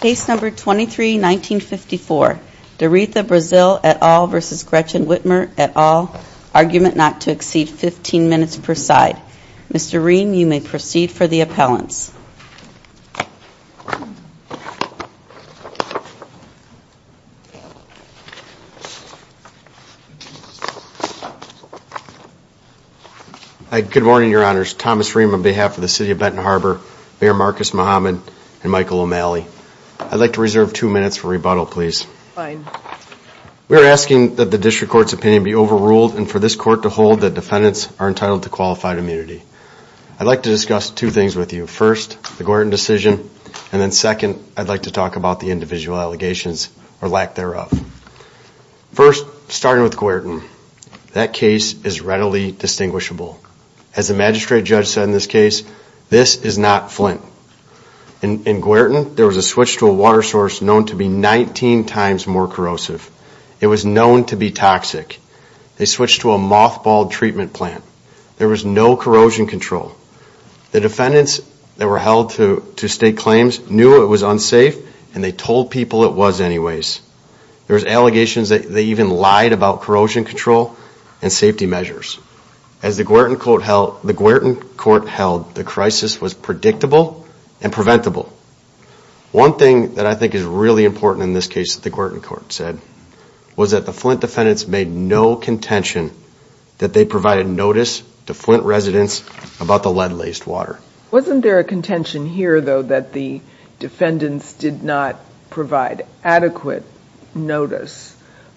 Case number 23-1954, Doretha Braziel et al. v. Gretchen Whitmer et al., argument not to exceed 15 minutes per side. Mr. Rehm, you may proceed for the appellants. Good morning, Your Honors. Thomas Rehm on behalf of the City of Benton Harbor, Mayor I'd like to reserve two minutes for rebuttal, please. We are asking that the district court's opinion be overruled and for this court to hold that defendants are entitled to qualified immunity. I'd like to discuss two things with you. First, the Guertin decision, and then second, I'd like to talk about the individual allegations or lack thereof. First, starting with Guertin. That case is readily distinguishable. As the magistrate judge said in this case, this is not Flint. In Guertin, there was a switch to a water source known to be 19 times more corrosive. It was known to be toxic. They switched to a mothballed treatment plant. There was no corrosion control. The defendants that were held to state claims knew it was unsafe, and they told people it was anyways. There was allegations that they even lied about corrosion control and safety measures. As the Guertin court held, the crisis was predictable and preventable. One thing that I think is really important in this case that the Guertin court said was that the Flint defendants made no contention that they provided notice to Flint residents about the lead-laced water. Wasn't there a contention here, though, that the defendants did not provide adequate notice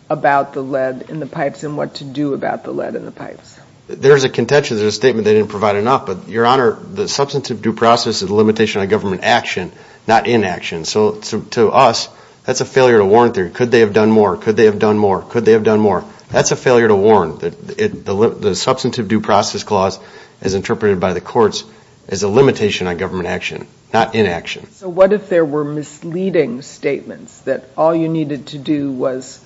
about the lead in the pipes and what to do about the lead in the pipes? There's a contention. There's a statement they didn't provide enough, but, Your Honor, the substantive due process is a limitation on government action, not inaction. So to us, that's a failure to warn theory. Could they have done more? Could they have done more? Could they have done more? That's a failure to warn. The substantive due process clause, as interpreted by the courts, is a limitation on government action, not inaction. So what if there were misleading statements that all you needed to do was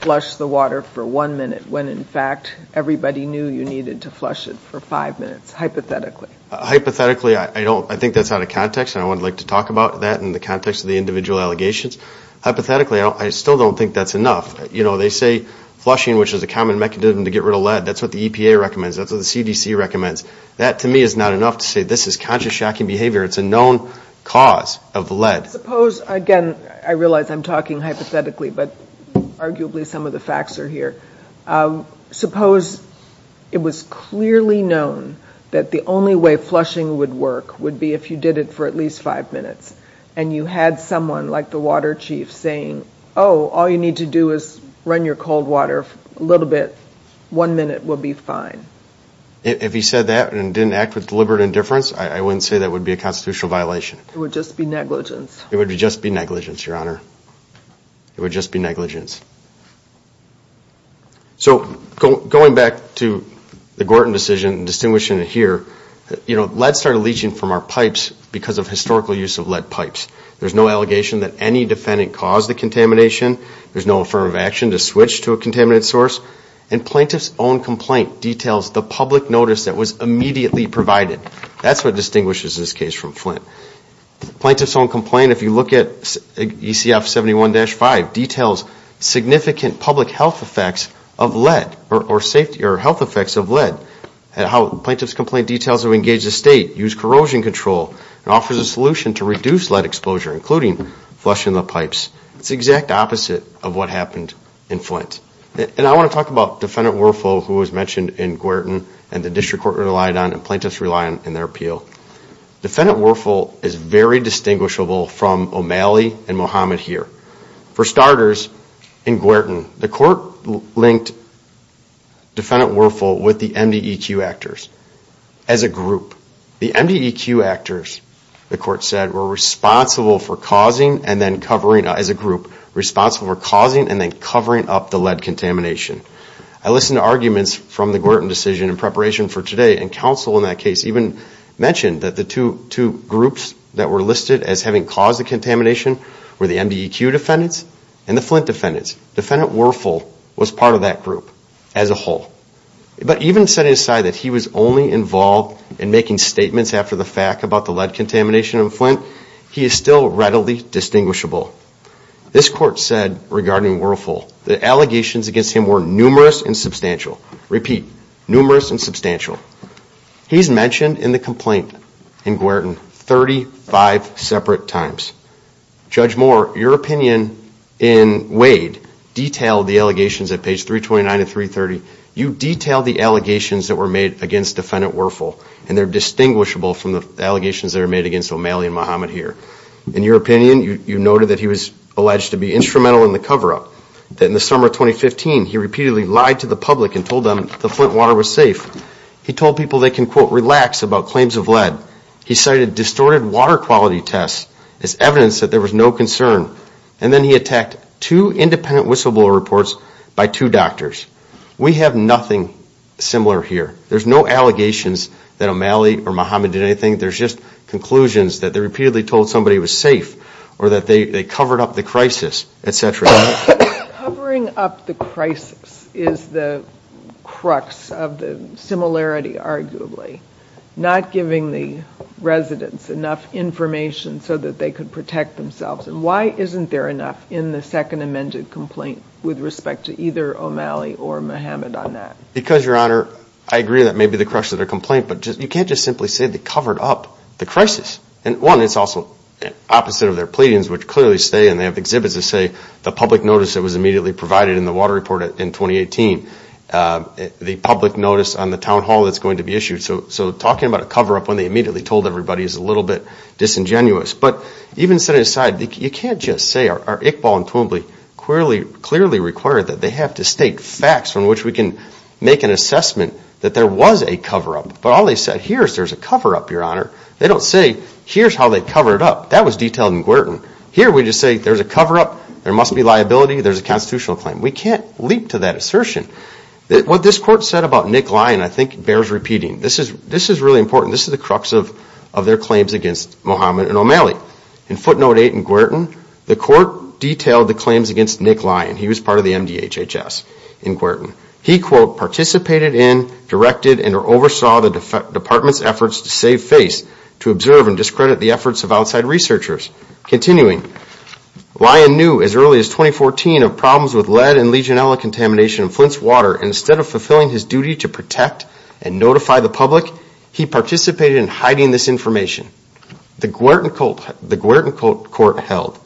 flush the water for one minute, when, in fact, everybody knew you needed to flush it for five minutes, hypothetically? Hypothetically, I don't. I think that's out of context, and I would like to talk about that in the context of the individual allegations. Hypothetically, I still don't think that's enough. You know, they say flushing, which is a common mechanism to get rid of lead, that's what the EPA recommends, that's what the CDC recommends. That, to me, is not enough to say this is conscious shocking behavior. It's a known cause of lead. Suppose, again, I realize I'm talking hypothetically, but arguably some of the facts are here. Suppose it was clearly known that the only way flushing would work would be if you did it for at least five minutes, and you had someone, like the water chief, saying, oh, all you need to do is run your water a little bit, one minute will be fine. If he said that and didn't act with deliberate indifference, I wouldn't say that would be a constitutional violation. It would just be negligence. It would just be negligence, Your Honor. It would just be negligence. So going back to the Gorton decision, distinguishing it here, you know, lead started leaching from our pipes because of historical use of lead pipes. There's no allegation that any defendant caused the contamination. There's no affirmative action to switch to a contaminated source. And plaintiff's own complaint details the public notice that was immediately provided. That's what distinguishes this case from Flint. Plaintiff's own complaint, if you look at ECF 71-5, details significant public health effects of lead, or health effects of lead. Plaintiff's complaint details how we engage the state, use corrosion control, and offers a to reduce lead exposure, including flushing the pipes. It's the exact opposite of what happened in Flint. And I want to talk about Defendant Werfel, who was mentioned in Gorton, and the District Court relied on, and plaintiffs rely on in their appeal. Defendant Werfel is very distinguishable from O'Malley and Muhammad here. For starters, in Gorton, the court linked Defendant Werfel with the MDEQ actors as a group. The MDEQ actors, the court said, were responsible for causing and then covering up, as a group, responsible for causing and then covering up the lead contamination. I listened to arguments from the Gorton decision in preparation for today, and counsel in that case even mentioned that the two groups that were listed as having caused the contamination were the MDEQ defendants and the Flint defendants. Defendant Werfel was part of that group as a whole. But even setting aside that he was only involved in making statements after the fact about the lead contamination in Flint, he is still readily distinguishable. This court said regarding Werfel that allegations against him were numerous and substantial. Repeat, numerous and substantial. He's mentioned in the complaint in Gorton 35 separate times. Judge Moore, your opinion in Wade detailed the allegations at page 329 of 330. You detailed the allegations that were made against Defendant Werfel, and they're distinguishable from the allegations that are made against O'Malley and Muhammad here. In your opinion, you noted that he was alleged to be instrumental in the cover-up. That in the summer of 2015, he repeatedly lied to the public and told them the Flint water was safe. He told people they can, quote, about claims of lead. He cited distorted water quality tests as evidence that there was no concern. And then he attacked two independent whistleblower reports by two doctors. We have nothing similar here. There's no allegations that O'Malley or Muhammad did anything. There's just conclusions that they repeatedly told somebody it was safe or that they covered up the crisis, arguably, not giving the residents enough information so that they could protect themselves. And why isn't there enough in the second amended complaint with respect to either O'Malley or Muhammad on that? Because, Your Honor, I agree that may be the crux of the complaint, but you can't just simply say they covered up the crisis. And one, it's also opposite of their pleadings, which clearly say, and they have exhibits that say, the public notice that was immediately provided in the water report in 2018, the public notice on the town hall that's going to be issued. So talking about a cover-up when they immediately told everybody is a little bit disingenuous. But even setting aside, you can't just say, are Iqbal and Twombly clearly required that they have to state facts on which we can make an assessment that there was a cover-up. But all they said here is there's a cover-up, Your Honor. They don't say, here's how they covered up. That was detailed in Gwerton. Here we just say there's a cover-up, there must be liability, there's a constitutional claim. We can't leap to that assertion. What this court said about Nick Lyon, I think bears repeating. This is really important. This is the crux of their claims against Mohamed and O'Malley. In footnote eight in Gwerton, the court detailed the claims against Nick Lyon. He was part of the MDHHS in Gwerton. He, quote, participated in, directed, and oversaw the department's efforts to save face, to observe and discredit the efforts of outside researchers. Continuing, Lyon knew as early as 2014 of problems with lead and Legionella contamination in Flint's water. Instead of fulfilling his duty to protect and notify the public, he participated in hiding this information. The Gwerton court held,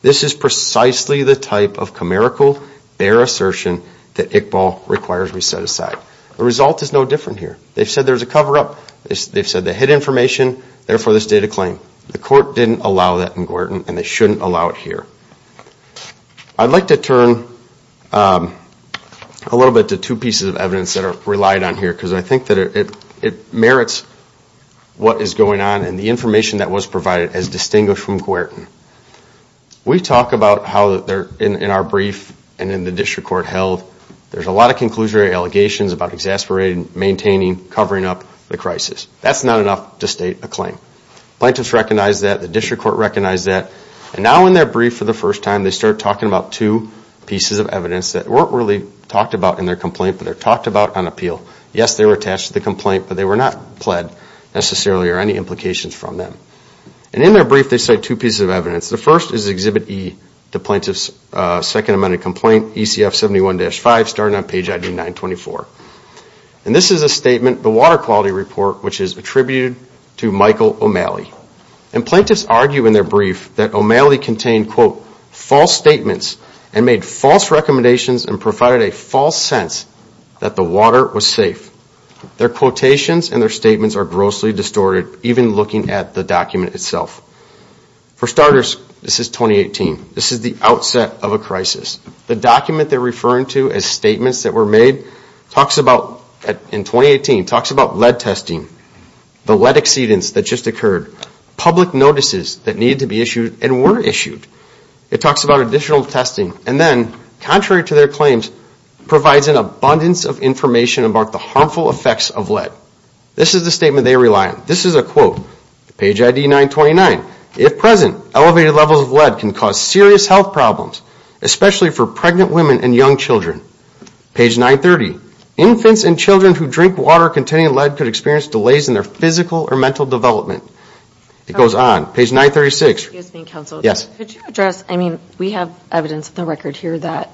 this is precisely the type of comirical, bare assertion that Iqbal requires we set aside. The result is no different here. They've said there's a cover-up, they've said they hid information, therefore this data claim. The court didn't allow that in Gwerton and they shouldn't allow it here. I'd like to turn a little bit to two pieces of evidence that are relied on here because I think that it merits what is going on and the information that was provided as distinguished from Gwerton. We talk about how in our brief and in the district court held, there's a lot of conclusory allegations about exasperating, maintaining, covering up the crisis. That's not enough to state a claim. Plaintiffs recognize that, the district court recognizes that. Now in their brief for the first time, they start talking about two pieces of evidence that weren't really talked about in their complaint, but they're talked about on appeal. Yes, they were attached to the complaint, but they were not pled necessarily or any implications from them. In their brief, they cite two pieces of evidence. The first is Exhibit E, the plaintiff's second amended complaint, ECF 71-5, starting on page ID 924. This is a statement, the water quality report, which is attributed to Michael O'Malley. And plaintiffs argue in their brief that O'Malley contained, quote, false statements and made false recommendations and provided a false sense that the water was safe. Their quotations and their statements are grossly distorted, even looking at the document itself. For starters, this is 2018. This is the outset of a crisis. The document they're referring to as statements that were made talks about, in 2018, talks about lead testing, the lead exceedance that just occurred, public notices that need to be issued and were issued. It talks about additional testing and then, contrary to their claims, provides an abundance of information about the harmful effects of lead. This is the statement they rely on. This is a quote, page ID 929. If present, elevated levels of lead can cause serious health problems, especially for pregnant women and young children. Page 930, infants and children who drink water containing lead could experience delays in their physical or mental development. It goes on. Page 936. Excuse me, counsel. Yes. Could you address, I mean, we have evidence in the record here that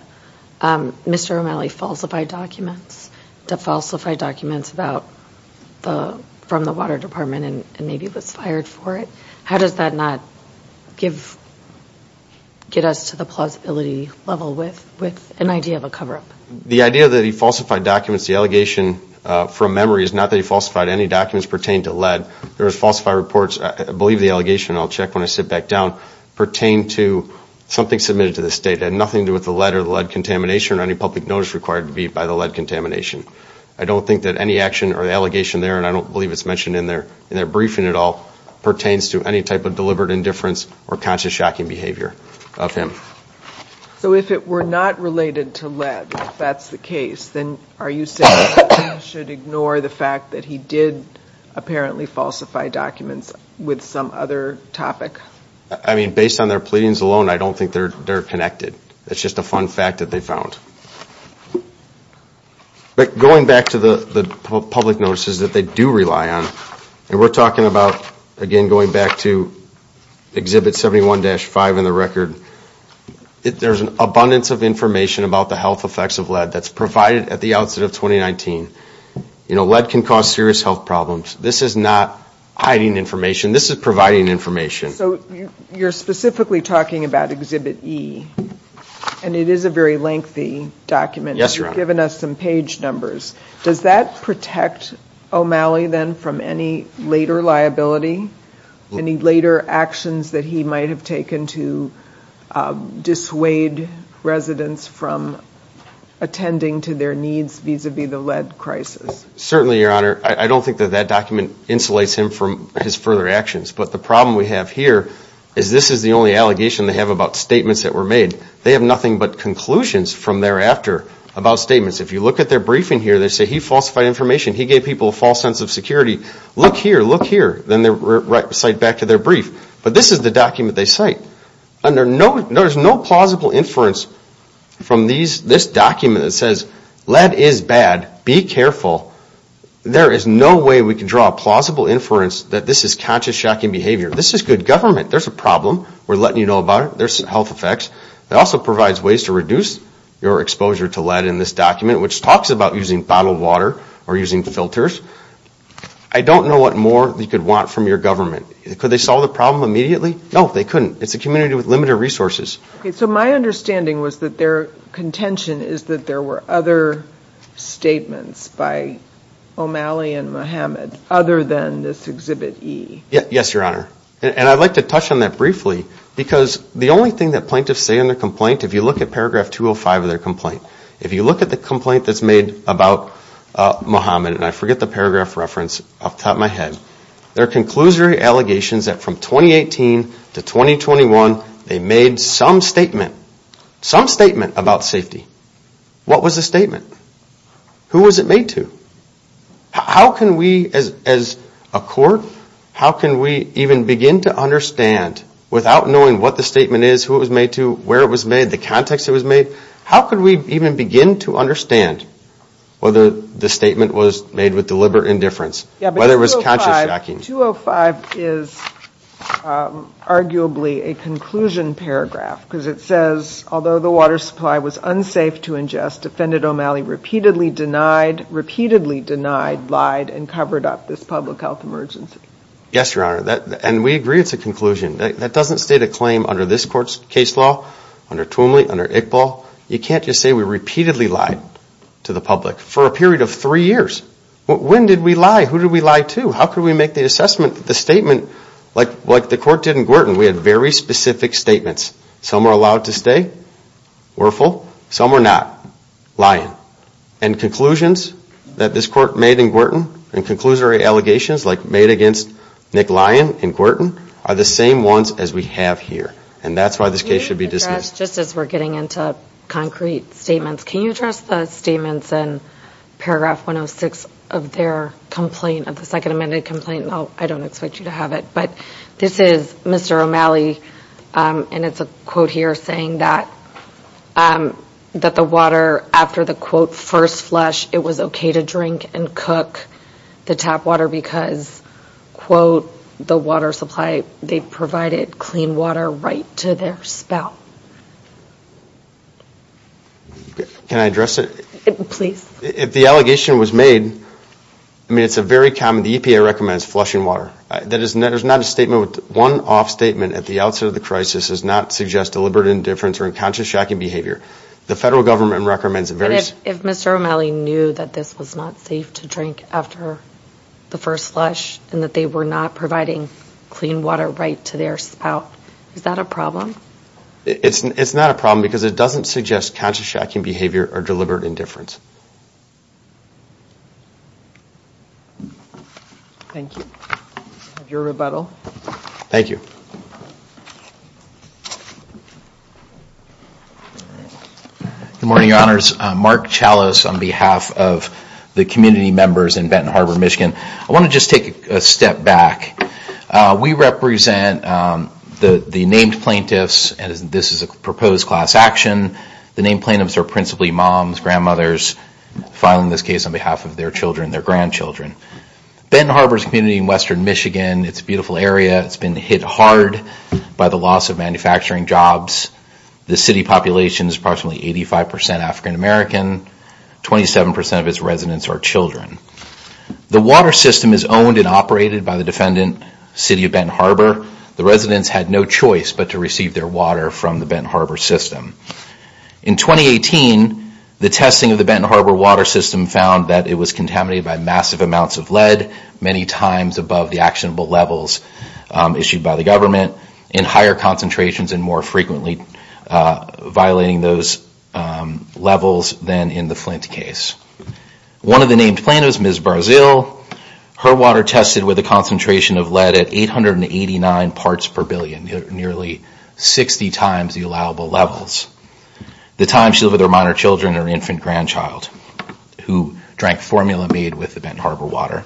Mr. O'Malley falsified documents, falsified documents about the, from the water department and maybe was fired for it. How does that not give, get us to the plausibility level with, with an idea of a cover-up? The idea that he falsified documents, the allegation from memory, is not that he falsified any documents pertaining to lead. There was falsified reports, I believe the allegation, and I'll check when I sit back down, pertain to something submitted to the state had nothing to do with the lead or the lead contamination or any public notice required to be by the lead contamination. I don't think that any action or the allegation there, and I don't believe it's mentioned in their, in their briefing at all, pertains to any type of deliberate indifference or conscious shocking behavior of him. So if it were not related to lead, if that's the case, then are you saying we should ignore the fact that he did apparently falsify documents with some other topic? I mean, based on their pleadings alone, I don't think they're, they're connected. It's just a fun fact that they found. But going back to the, the public notices that they do rely on, and we're talking about, again, going back to Exhibit 71-5 in the record, there's an abundance of information about the health effects of lead that's provided at the outset of 2019. You know, lead can cause serious health problems. This is not hiding information, this is providing information. So you're specifically talking about Exhibit E, and it is a very lengthy document. Yes, Your Honor. You've given us some page numbers. Does that protect O'Malley then from any later liability, any later actions that he might have taken to dissuade residents from attending to their needs vis-a-vis the lead crisis? Certainly, Your Honor. I don't think that that document insulates him from his further actions, but the problem we have here is this is the only allegation they have about statements that were made. They have nothing but conclusions from thereafter about statements. If you look at their briefing here, they say he falsified information. He gave people a false sense of security. Look here, look here. Then they cite back to their brief. But this is the document they cite. And there's no plausible inference from this document that says, lead is bad, be careful. There is no way we can draw a plausible inference that this is conscious shocking behavior. This is good government. There's a problem. We're letting you know about it. There's health effects. It also provides ways to reduce your exposure to lead in this document, which talks about using bottled water or using filters. I don't know what more you could want from your government. Could they solve the problem immediately? No, they couldn't. It's a community with limited resources. Okay, so my understanding was that their contention is that there were other statements by O'Malley and Muhammad other than this Exhibit E. Yes, Your Honor. And I'd like to touch on that briefly because the only thing that plaintiffs say in their complaint, if you look at paragraph 205 of their complaint, if you look at the complaint that's made about Muhammad, and I forget the paragraph reference off the top of my head, their conclusory allegations that from 2018 to 2021, they made some statement, some statement about safety. What was the statement? Who was it made to? How can we as a court, how can we even begin to understand, without knowing what the statement is, who it was made to, where it was made, the context it was made, how could we even begin to understand whether the statement was made with deliberate indifference, whether it was conscious jacking? Yeah, but 205 is arguably a conclusion paragraph because it says, although the water supply was unsafe to ingest, Defendant O'Malley repeatedly denied, repeatedly denied, lied, and covered up this public health emergency. Yes, Your Honor, and we agree it's a conclusion. That doesn't state a claim under this court's case law, under Twomley, under Iqbal. You can't just say we repeatedly lied to the public for a period of three years. When did we lie? Who did we lie to? How could we make the assessment that the statement, like the court did in Gorton, we had very specific statements. Some were allowed to stay, were full. Some were not, lying. And conclusions that this court made in Gorton, conclusory allegations, like made against Nick Lyon in Gorton, are the same ones as we have here, and that's why this case should be dismissed. Just as we're getting into concrete statements, can you address the statements in paragraph 106 of their complaint, of the second amended complaint? No, I don't expect you to have it, but this is Mr. O'Malley, and it's a quote here saying that that the water after the quote first flush, it was okay to drink and cook the tap water because quote the water supply, they provided clean water right to their spout. Can I address it? Please. If the allegation was made, I mean it's a very common, the EPA recommends flushing water. That is not a statement, one off statement at the outset of the crisis, does not suggest deliberate indifference or unconscious shacking behavior. The federal government recommends various... And if Mr. O'Malley knew that this was not safe to drink after the first flush, and that they were not providing clean water right to their spout, is that a problem? It's not a problem because it doesn't suggest conscious shacking behavior or deliberate indifference. Thank you. Have your rebuttal. Thank you. Good morning, your honors. Mark Chalice on behalf of the community members in Benton Harbor, Michigan. I want to just take a step back. We represent the named plaintiffs, and this is a proposed class action. The named plaintiffs are principally moms, grandmothers filing this case on behalf of their children, their grandchildren. Benton Harbor's community in western Michigan, it's a beautiful area. It's been hit hard by the loss of manufacturing jobs. The city population is approximately 85% African American. 27% of its residents are children. The water system is owned and operated by the defendant, City of Benton Harbor. The residents had no choice but to receive their water from the Benton Harbor system. In 2018, the testing of the Benton Harbor water system found that it was contaminated by massive amounts of lead, many times above the actionable levels issued by the government, in higher concentrations, and more frequently violating those levels than in the Flint case. One of the named plaintiffs, Ms. Barzil, her water tested with a concentration of lead at 889 parts per billion, nearly 60 times the allowable levels. The time of their minor children or infant grandchild who drank formula made with the Benton Harbor water.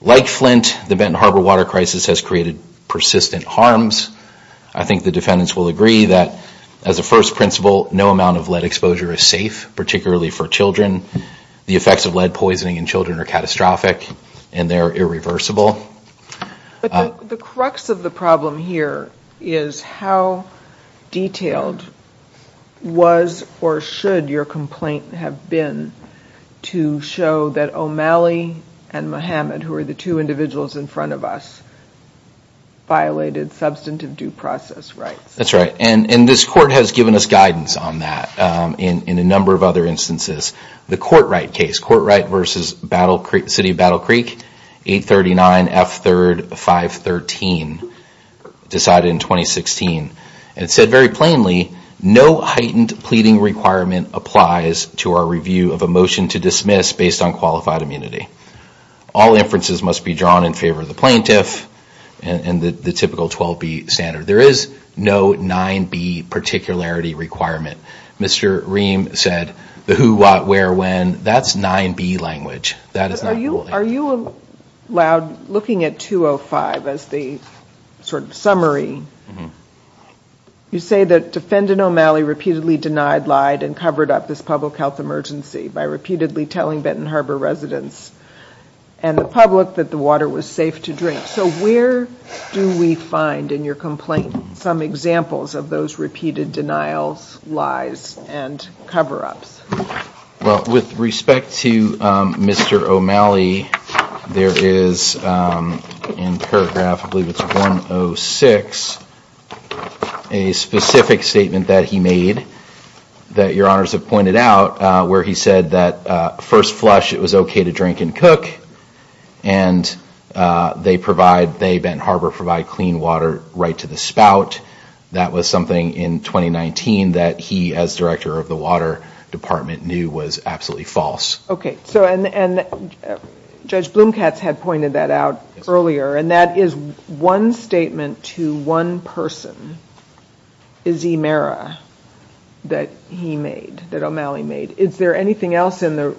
Like Flint, the Benton Harbor water crisis has created persistent harms. I think the defendants will agree that as a first principle, no amount of lead exposure is safe, particularly for children. The effects of lead poisoning in children are catastrophic and they're irreversible. But the crux of the problem here is how detailed was or should your complaint have been to show that O'Malley and Muhammad, who are the two individuals in front of us, violated substantive due process rights? That's right, and this court has given us guidance on that in a number of other instances. The Courtright case, Courtright v. City of Battle Creek, 839 F. 3rd 513, decided in 2016 and said very plainly, no heightened pleading requirement applies to our review of a motion to dismiss based on qualified immunity. All inferences must be drawn in favor of the plaintiff and the typical 12B standard. There is no 9B particularity requirement. Mr. Ream said, the who, what, where, when, that's 9B language. Are you allowed, looking at 205 as the sort of summary, you say that defendant O'Malley repeatedly denied, lied, and covered up this public health emergency by repeatedly telling Benton Harbor residents and the public that the water was safe to drink. So where do we find in your complaint some examples of those repeated denials, lies, and cover-ups? Well, with respect to Mr. O'Malley, there is in paragraph, I believe it's 106, a specific statement that he made, that your honors have pointed out, where he said that first flush it was okay to drink and cook, and they provide, they Benton Harbor, provide clean water right to the spout. That was something in 2019 that he, as director of the water department, knew was absolutely false. Okay, so and Judge Blumkatz had pointed that out earlier, and that is one statement to one person, Izzy Mera, that he made, that O'Malley made. Is there anything else in the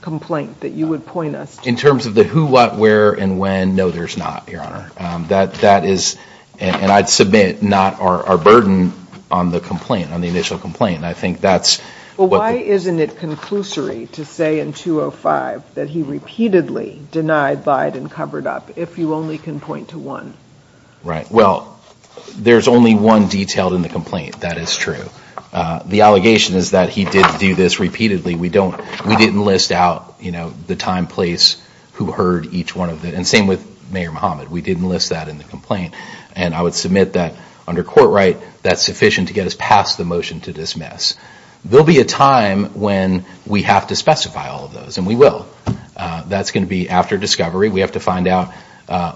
complaint that you would point us to? In terms of the who, what, where, and when, no, there's not, your honor. That is, and I'd submit, not our burden on the complaint, on the initial complaint. I think that's... Well, why isn't it conclusory to say in 205 that he repeatedly denied, lied, and covered up, if you only can point to one? Right, well, there's only one detailed in the complaint, that is true. The allegation is that he did do this repeatedly. We don't, we didn't list out, you know, the time, place, who heard each one of them, and same with Mayor Muhammad. We didn't list that in the complaint, and I would submit that under court right, that's sufficient to get us past the motion to dismiss. There'll be a time when we have to specify all of those, and we will. That's going to be after discovery. We have to find out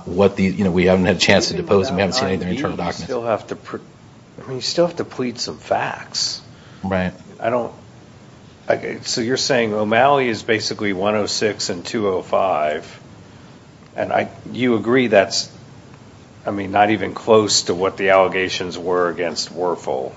what the, you know, we haven't had a chance to depose them. We haven't seen any of their internal documents. You still have to plead some facts. Right. I don't, okay, so you're saying O'Malley is basically 106 and 205, and I, you agree that's, I mean, not even close to what the allegations were against Werfel?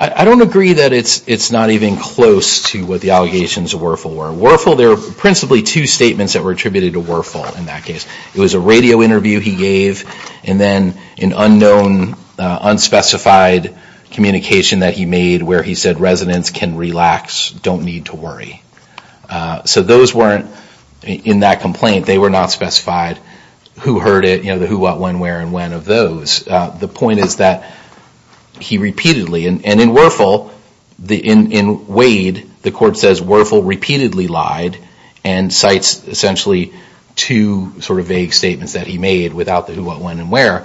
I don't agree that it's, it's not even close to what the allegations of Werfel were. Werfel, there are principally two statements that were attributed to Werfel in that case. It was a radio interview he gave, and then an unknown, unspecified communication that he made where he said residents can relax, don't need to worry. So those weren't in that complaint. They were not specified who heard it, you know, the who, what, when, where, and when of those. The point is that he repeatedly, and in Werfel, in Wade, the court says Werfel repeatedly lied, and cites essentially two sort of vague statements that he made without the who, what, when, and where.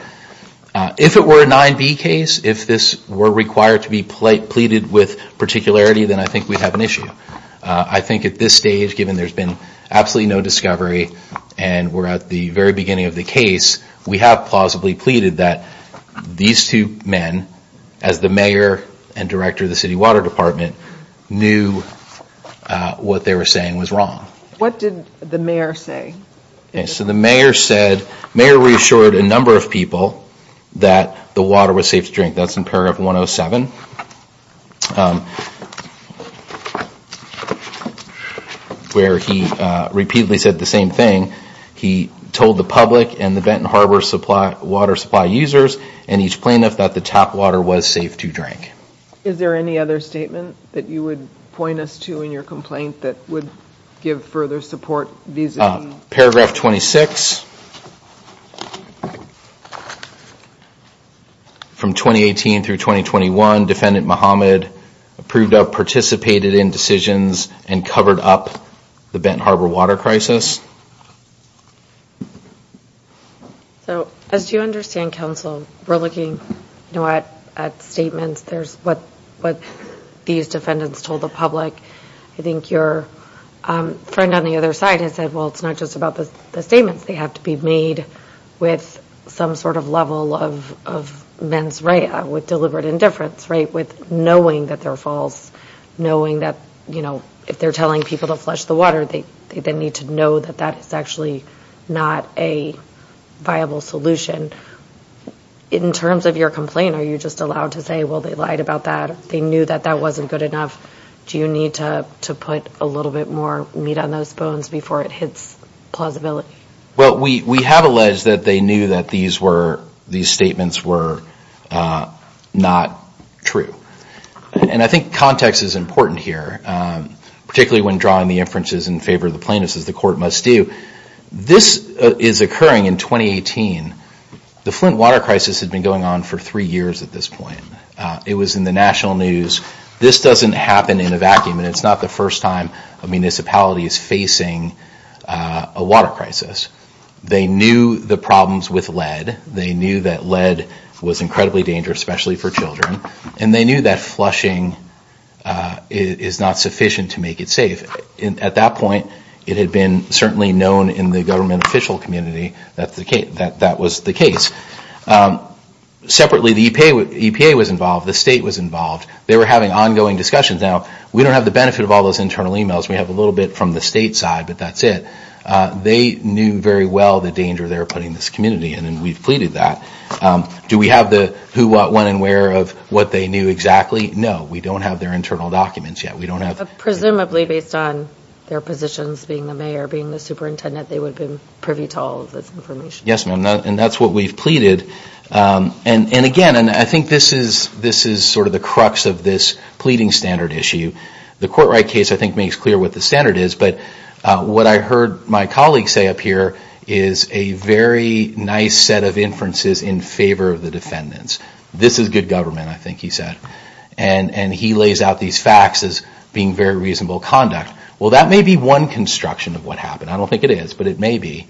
If it were a 9B case, if this were required to be pleaded with particularity, then I think we'd have an issue. I think at this stage, given there's been absolutely no discovery, and we're at the very beginning of the case, we have plausibly pleaded that these two men, as the mayor and director of the city water department, knew what they were saying was wrong. What did the mayor say? So the mayor said, the mayor reassured a number of people that the water was safe to drink. That's in paragraph 107, where he repeatedly said the same thing. He told the public and the Benton Harbor water supply users and each plaintiff that the tap water was safe to drink. Is there any other statement that you would point us to in your complaint that would give further support vis-a-vis? Paragraph 26. From 2018 through 2021, Defendant Muhammad approved of, participated in decisions, and covered up the Benton Harbor water crisis. So as you understand, counsel, we're looking at statements. There's what these defendants told the public. I think your friend on the other side has said, well, it's not just about the statements. They have to be made with some sort of level of mens rea, with deliberate indifference, with knowing that they're false, knowing that if they're telling people to flush the water, they need to know that that is actually not a viable solution. In terms of your complaint, are you just allowed to say, well, they lied about that? They knew that that wasn't good enough. Do you need to put a little bit more meat on those bones before it hits plausibility? Well, we have alleged that they knew that these statements were not true. And I think context is important here, particularly when drawing the inferences in favor of the plaintiffs, as the court must do. This is occurring in 2018. The Flint water crisis had been going on for three years at this point. It was in the national news. This doesn't happen in a vacuum, and it's not the first time a municipality is facing a water crisis. They knew the problems with lead. They knew that lead was incredibly dangerous, especially for children. And they knew that flushing is not sufficient to make it safe. At that point, it had been certainly known in the government official community that that was the case. Separately, the EPA was involved. The state was involved. They were having ongoing discussions. Now, we don't have the benefit of all those internal emails. We have a little bit from the state side, but that's it. They knew very well the danger they were putting this community in, and we've pleaded that. Do we have the who, what, when, and where of what they knew exactly? No, we don't have their internal documents yet. We don't have... Presumably based on their positions, being the mayor, being the superintendent, they would have been privy to all of this information. Yes, ma'am. And that's what we've pleaded. And again, I think this is sort of the crux of this pleading standard issue. The court right case, I think, makes clear what the standard is. But what I heard my colleague say up here is a very nice set of inferences in favor of the defendants. This is good government, I think he said. And he lays out these facts as being very reasonable conduct. Well, that may be one construction of what happened. I don't think it is, but it may be.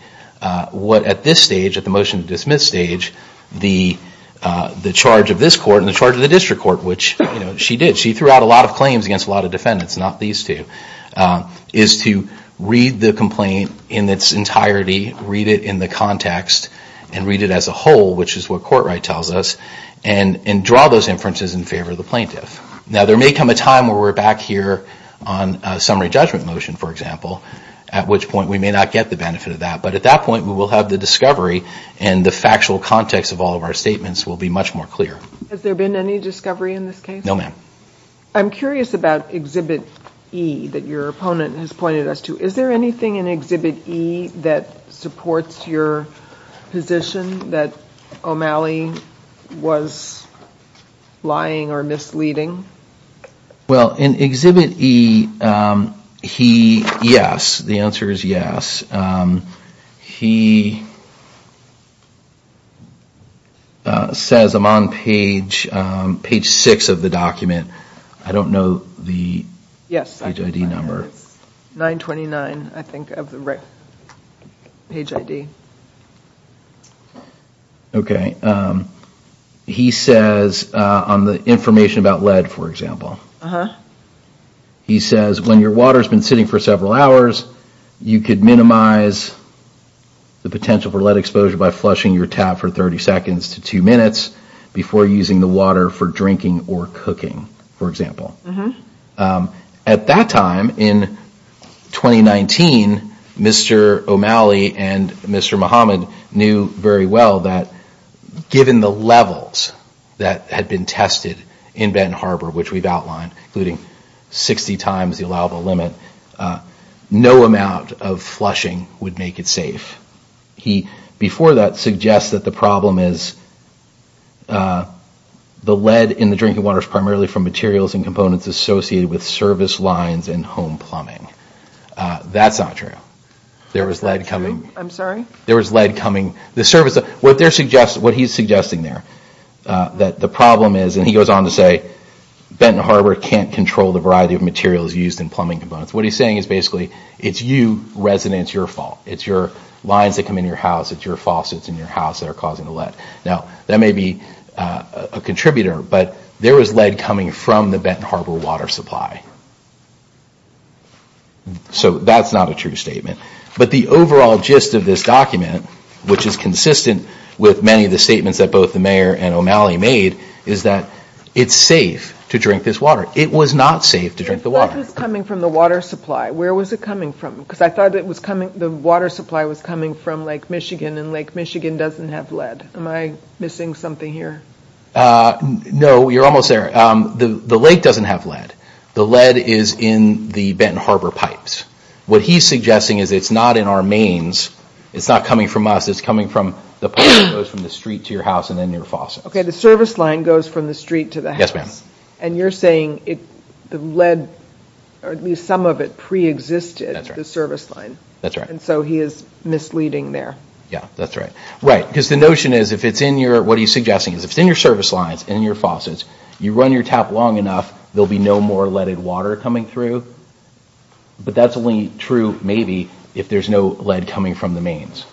What at this stage, at the motion to dismiss stage, the charge of this court and the charge of the district court, which she did, she threw out a lot of claims against a lot of defendants, not these two, is to read the complaint in its entirety, read it in the context, and read it as a whole, which is what court right tells us, and draw those inferences in favor of the plaintiff. Now, there may come a time where we're back here on a summary judgment motion, for example, at which point we may not get the benefit of that. But at that point, we will have the discovery and the factual context of all of our statements will be much more clear. Has there been any discovery in this case? No, ma'am. I'm curious about Exhibit E that your opponent has pointed us to. Is there anything in Exhibit E that supports your position that O'Malley was lying or misleading? Well, in Exhibit E, yes, the answer is yes. He says I'm on page six of the document. I don't know the page ID number. It's 929, I think, of the page ID. Okay. He says on the information about lead, for example, he says when your water has been sitting for several hours, you could minimize the potential for lead exposure by flushing your tap for 30 seconds to two minutes before using the water for drinking or cooking, for example. At that time in 2019, Mr. O'Malley and Mr. Muhammad knew very well that given the levels that had been tested in Benton Harbor, which we've outlined, including 60 times the allowable limit, no amount of flushing would make it safe. He, before that, suggests that the problem is that the lead in the drinking water is primarily from materials and components associated with service lines and home plumbing. That's not true. What he's suggesting there, that the problem is, and he goes on to say Benton Harbor can't control the variety of materials used in plumbing components. What he's saying is basically it's you, residents, your fault. It's your lines that come in your house, it's your faucets in your house that are causing the lead. That may be a contributor, but there was lead coming from the Benton Harbor water supply. So that's not a true statement. But the overall gist of this document, which is consistent with many of the statements that both the mayor and O'Malley made, is that it's safe to drink this water. It was not safe to drink the water. I thought it was coming from the water supply. Where was it coming from? Because I thought the water supply was coming from Lake Michigan, and Lake Michigan doesn't have lead. Am I missing something here? No, you're almost there. The lake doesn't have lead. The lead is in the Benton Harbor pipes. What he's suggesting is it's not in our mains. It's not coming from us. It's coming from the pipe that goes from the street to your house and then your faucet. Okay, the service line goes from the street to the house. Yes, ma'am. And you're saying the lead, or at least some of it, pre-existed the service line. That's right. And so he is misleading there. Yeah, that's right. Right, because the notion is if it's in your, what he's suggesting, is if it's in your service lines, in your faucets, you run your tap long enough, there will be no more leaded water coming through. But that's only true, maybe, if there's no lead coming from the mains,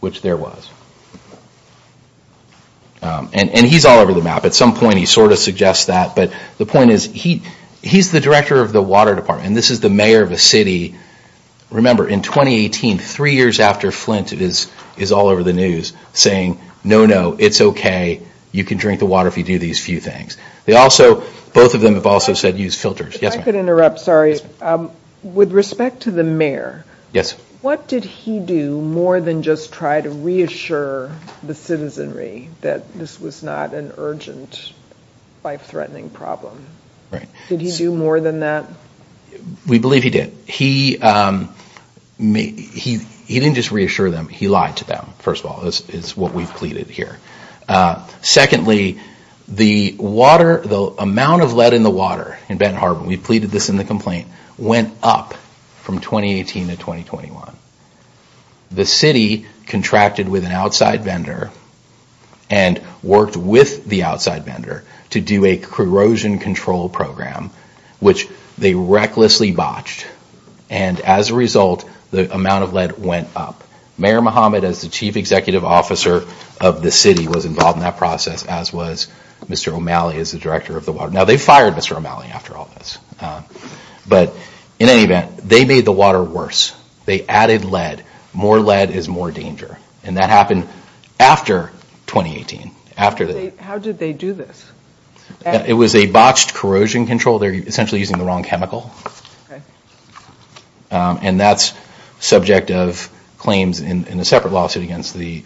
which there was. And he's all over the map. At some point, he sort of suggests that. But the point is, he's the director of the water department, and this is the mayor of a city. Remember, in 2018, three years after Flint, it is all over the news, saying, no, no, it's okay, you can drink the water if you do these few things. Both of them have also said use filters. If I could interrupt, sorry. With respect to the mayor, what did he do more than just try to reassure the citizenry that this was not an urgent, life-threatening problem? Did he do more than that? We believe he did. He didn't just reassure them, he lied to them, first of all, is what we've pleaded here. Secondly, the water, the amount of lead in the water in Benton Harbor, we pleaded this in the complaint, went up from 2018 to 2021. The city contracted with an outside vendor and worked with the outside vendor to do a corrosion control program, which they recklessly botched. And as a result, the amount of lead went up. Mayor Muhammad, as the chief executive officer of the city, was involved in that process, as was Mr. O'Malley, as the director of the water. Now, they fired Mr. O'Malley after all this. But in any event, they made the water worse. They added lead. More lead is more danger. And that happened after 2018. How did they do this? It was a botched corrosion control. They're essentially using the wrong chemical. And that's subject of claims in a separate lawsuit against the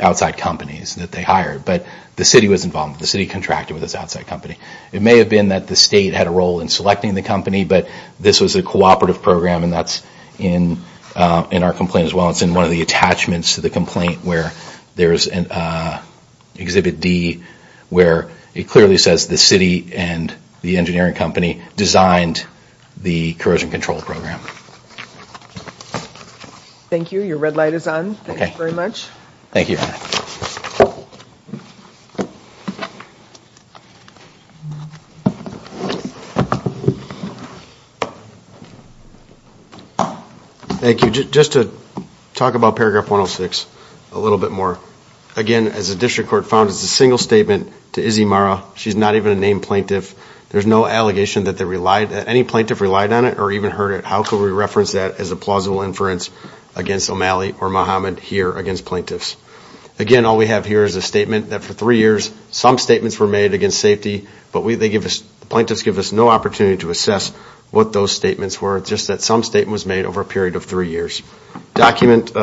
outside companies that they hired. But the city was involved. The city contracted with this outside company. It may have been that the state had a role in selecting the company, but this was a cooperative program. And that's in our complaint as well. It's in one of the attachments to the complaint where there's an Exhibit D where it clearly says the city and the engineering company designed the corrosion control program. Thank you. Your red light is on. Thank you very much. Thank you. Thank you. Just to talk about paragraph 106 a little bit more. Again, as the district court found, it's a single statement to Izzy Mara. She's not even a named plaintiff. There's no allegation that any plaintiff relied on it or even heard it. How could we reference that as plausible inference against O'Malley or Mohamed here against plaintiffs? Again, all we have here is a statement that for three years some statements were made against safety, but the plaintiffs give us no opportunity to assess what those statements were. Just that some statement was made over a period of three years. Exhibit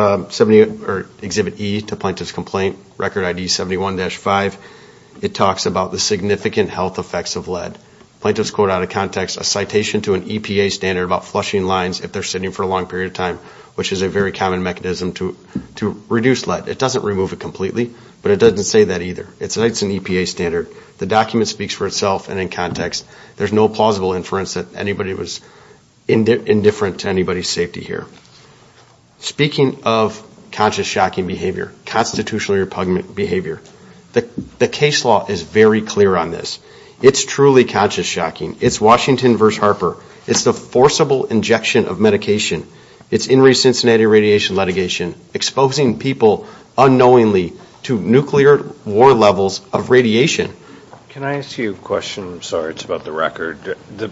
E to Plaintiff's Complaint, Record ID 71-5. It talks about the significant health effects of lead. Plaintiffs quote out of context a citation to an EPA standard about flushing lines if they're sitting for a long period of time, which is a very common mechanism to reduce lead. It doesn't remove it completely, but it doesn't say that either. It's an EPA standard. The document speaks for itself and in context. There's no plausible inference that anybody was indifferent to anybody's safety here. Speaking of conscious shocking behavior, constitutional repugnant behavior, the case law is very clear on this. It's truly conscious shocking. It's Washington versus Harper. It's the forcible injection of medication. It's in recent Cincinnati radiation litigation, exposing people unknowingly to nuclear war levels of radiation. Can I ask you a question? Sorry, it's about the record. The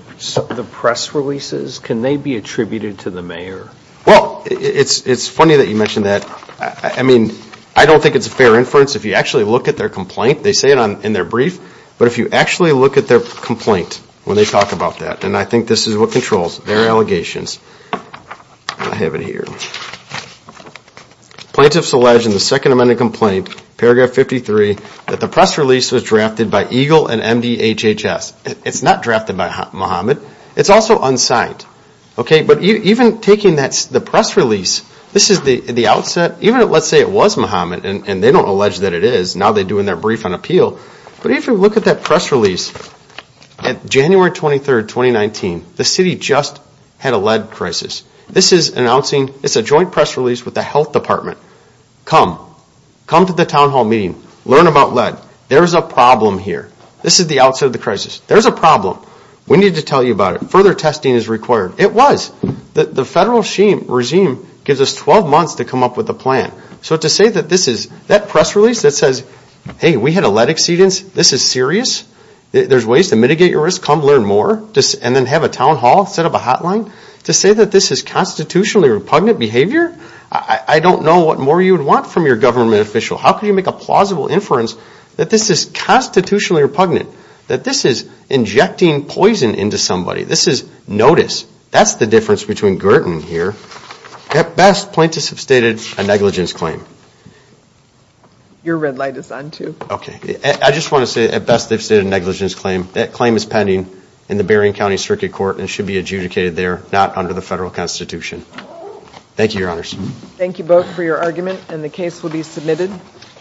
press releases, can they be attributed to the mayor? Well, it's funny that you mentioned that. I mean, I don't think it's a fair inference. If you actually look at their complaint, they say it in their brief, but if you actually look at their complaint when they talk about that, and I think this is what controls their allegations, I have it here. Plaintiffs allege in the Second Amendment complaint, paragraph 53, that the press release was drafted by EGLE and MDHHS. It's not drafted by Muhammad. It's also unsigned. Okay, but even taking the press release, this is the outset, even let's say it was Muhammad, and they don't allege that it is. Now they're doing their brief on appeal, but if you look at that press release at January 23rd, 2019, the city just had a lead crisis. This is announcing, it's a joint press release with the health department. Come, come to the town hall meeting, learn about lead. There is a problem here. This is the outset of the crisis. There's a problem. We need to tell you about it. Further testing is required. It was. The federal regime gives us 12 months to come up with a plan. So to say that this is, that press release that hey, we had a lead exceedance, this is serious, there's ways to mitigate your risk, come learn more, and then have a town hall set up a hotline, to say that this is constitutionally repugnant behavior, I don't know what more you would want from your government official. How can you make a plausible inference that this is constitutionally repugnant, that this is injecting poison into somebody. This is notice. That's the difference between Girton here. At best, plaintiffs have stated a negligence claim. Your red light is on too. Okay. I just want to say, at best, they've stated a negligence claim. That claim is pending in the Berrien County Circuit Court and should be adjudicated there, not under the federal constitution. Thank you, your honors. Thank you both for your argument and the case will be submitted.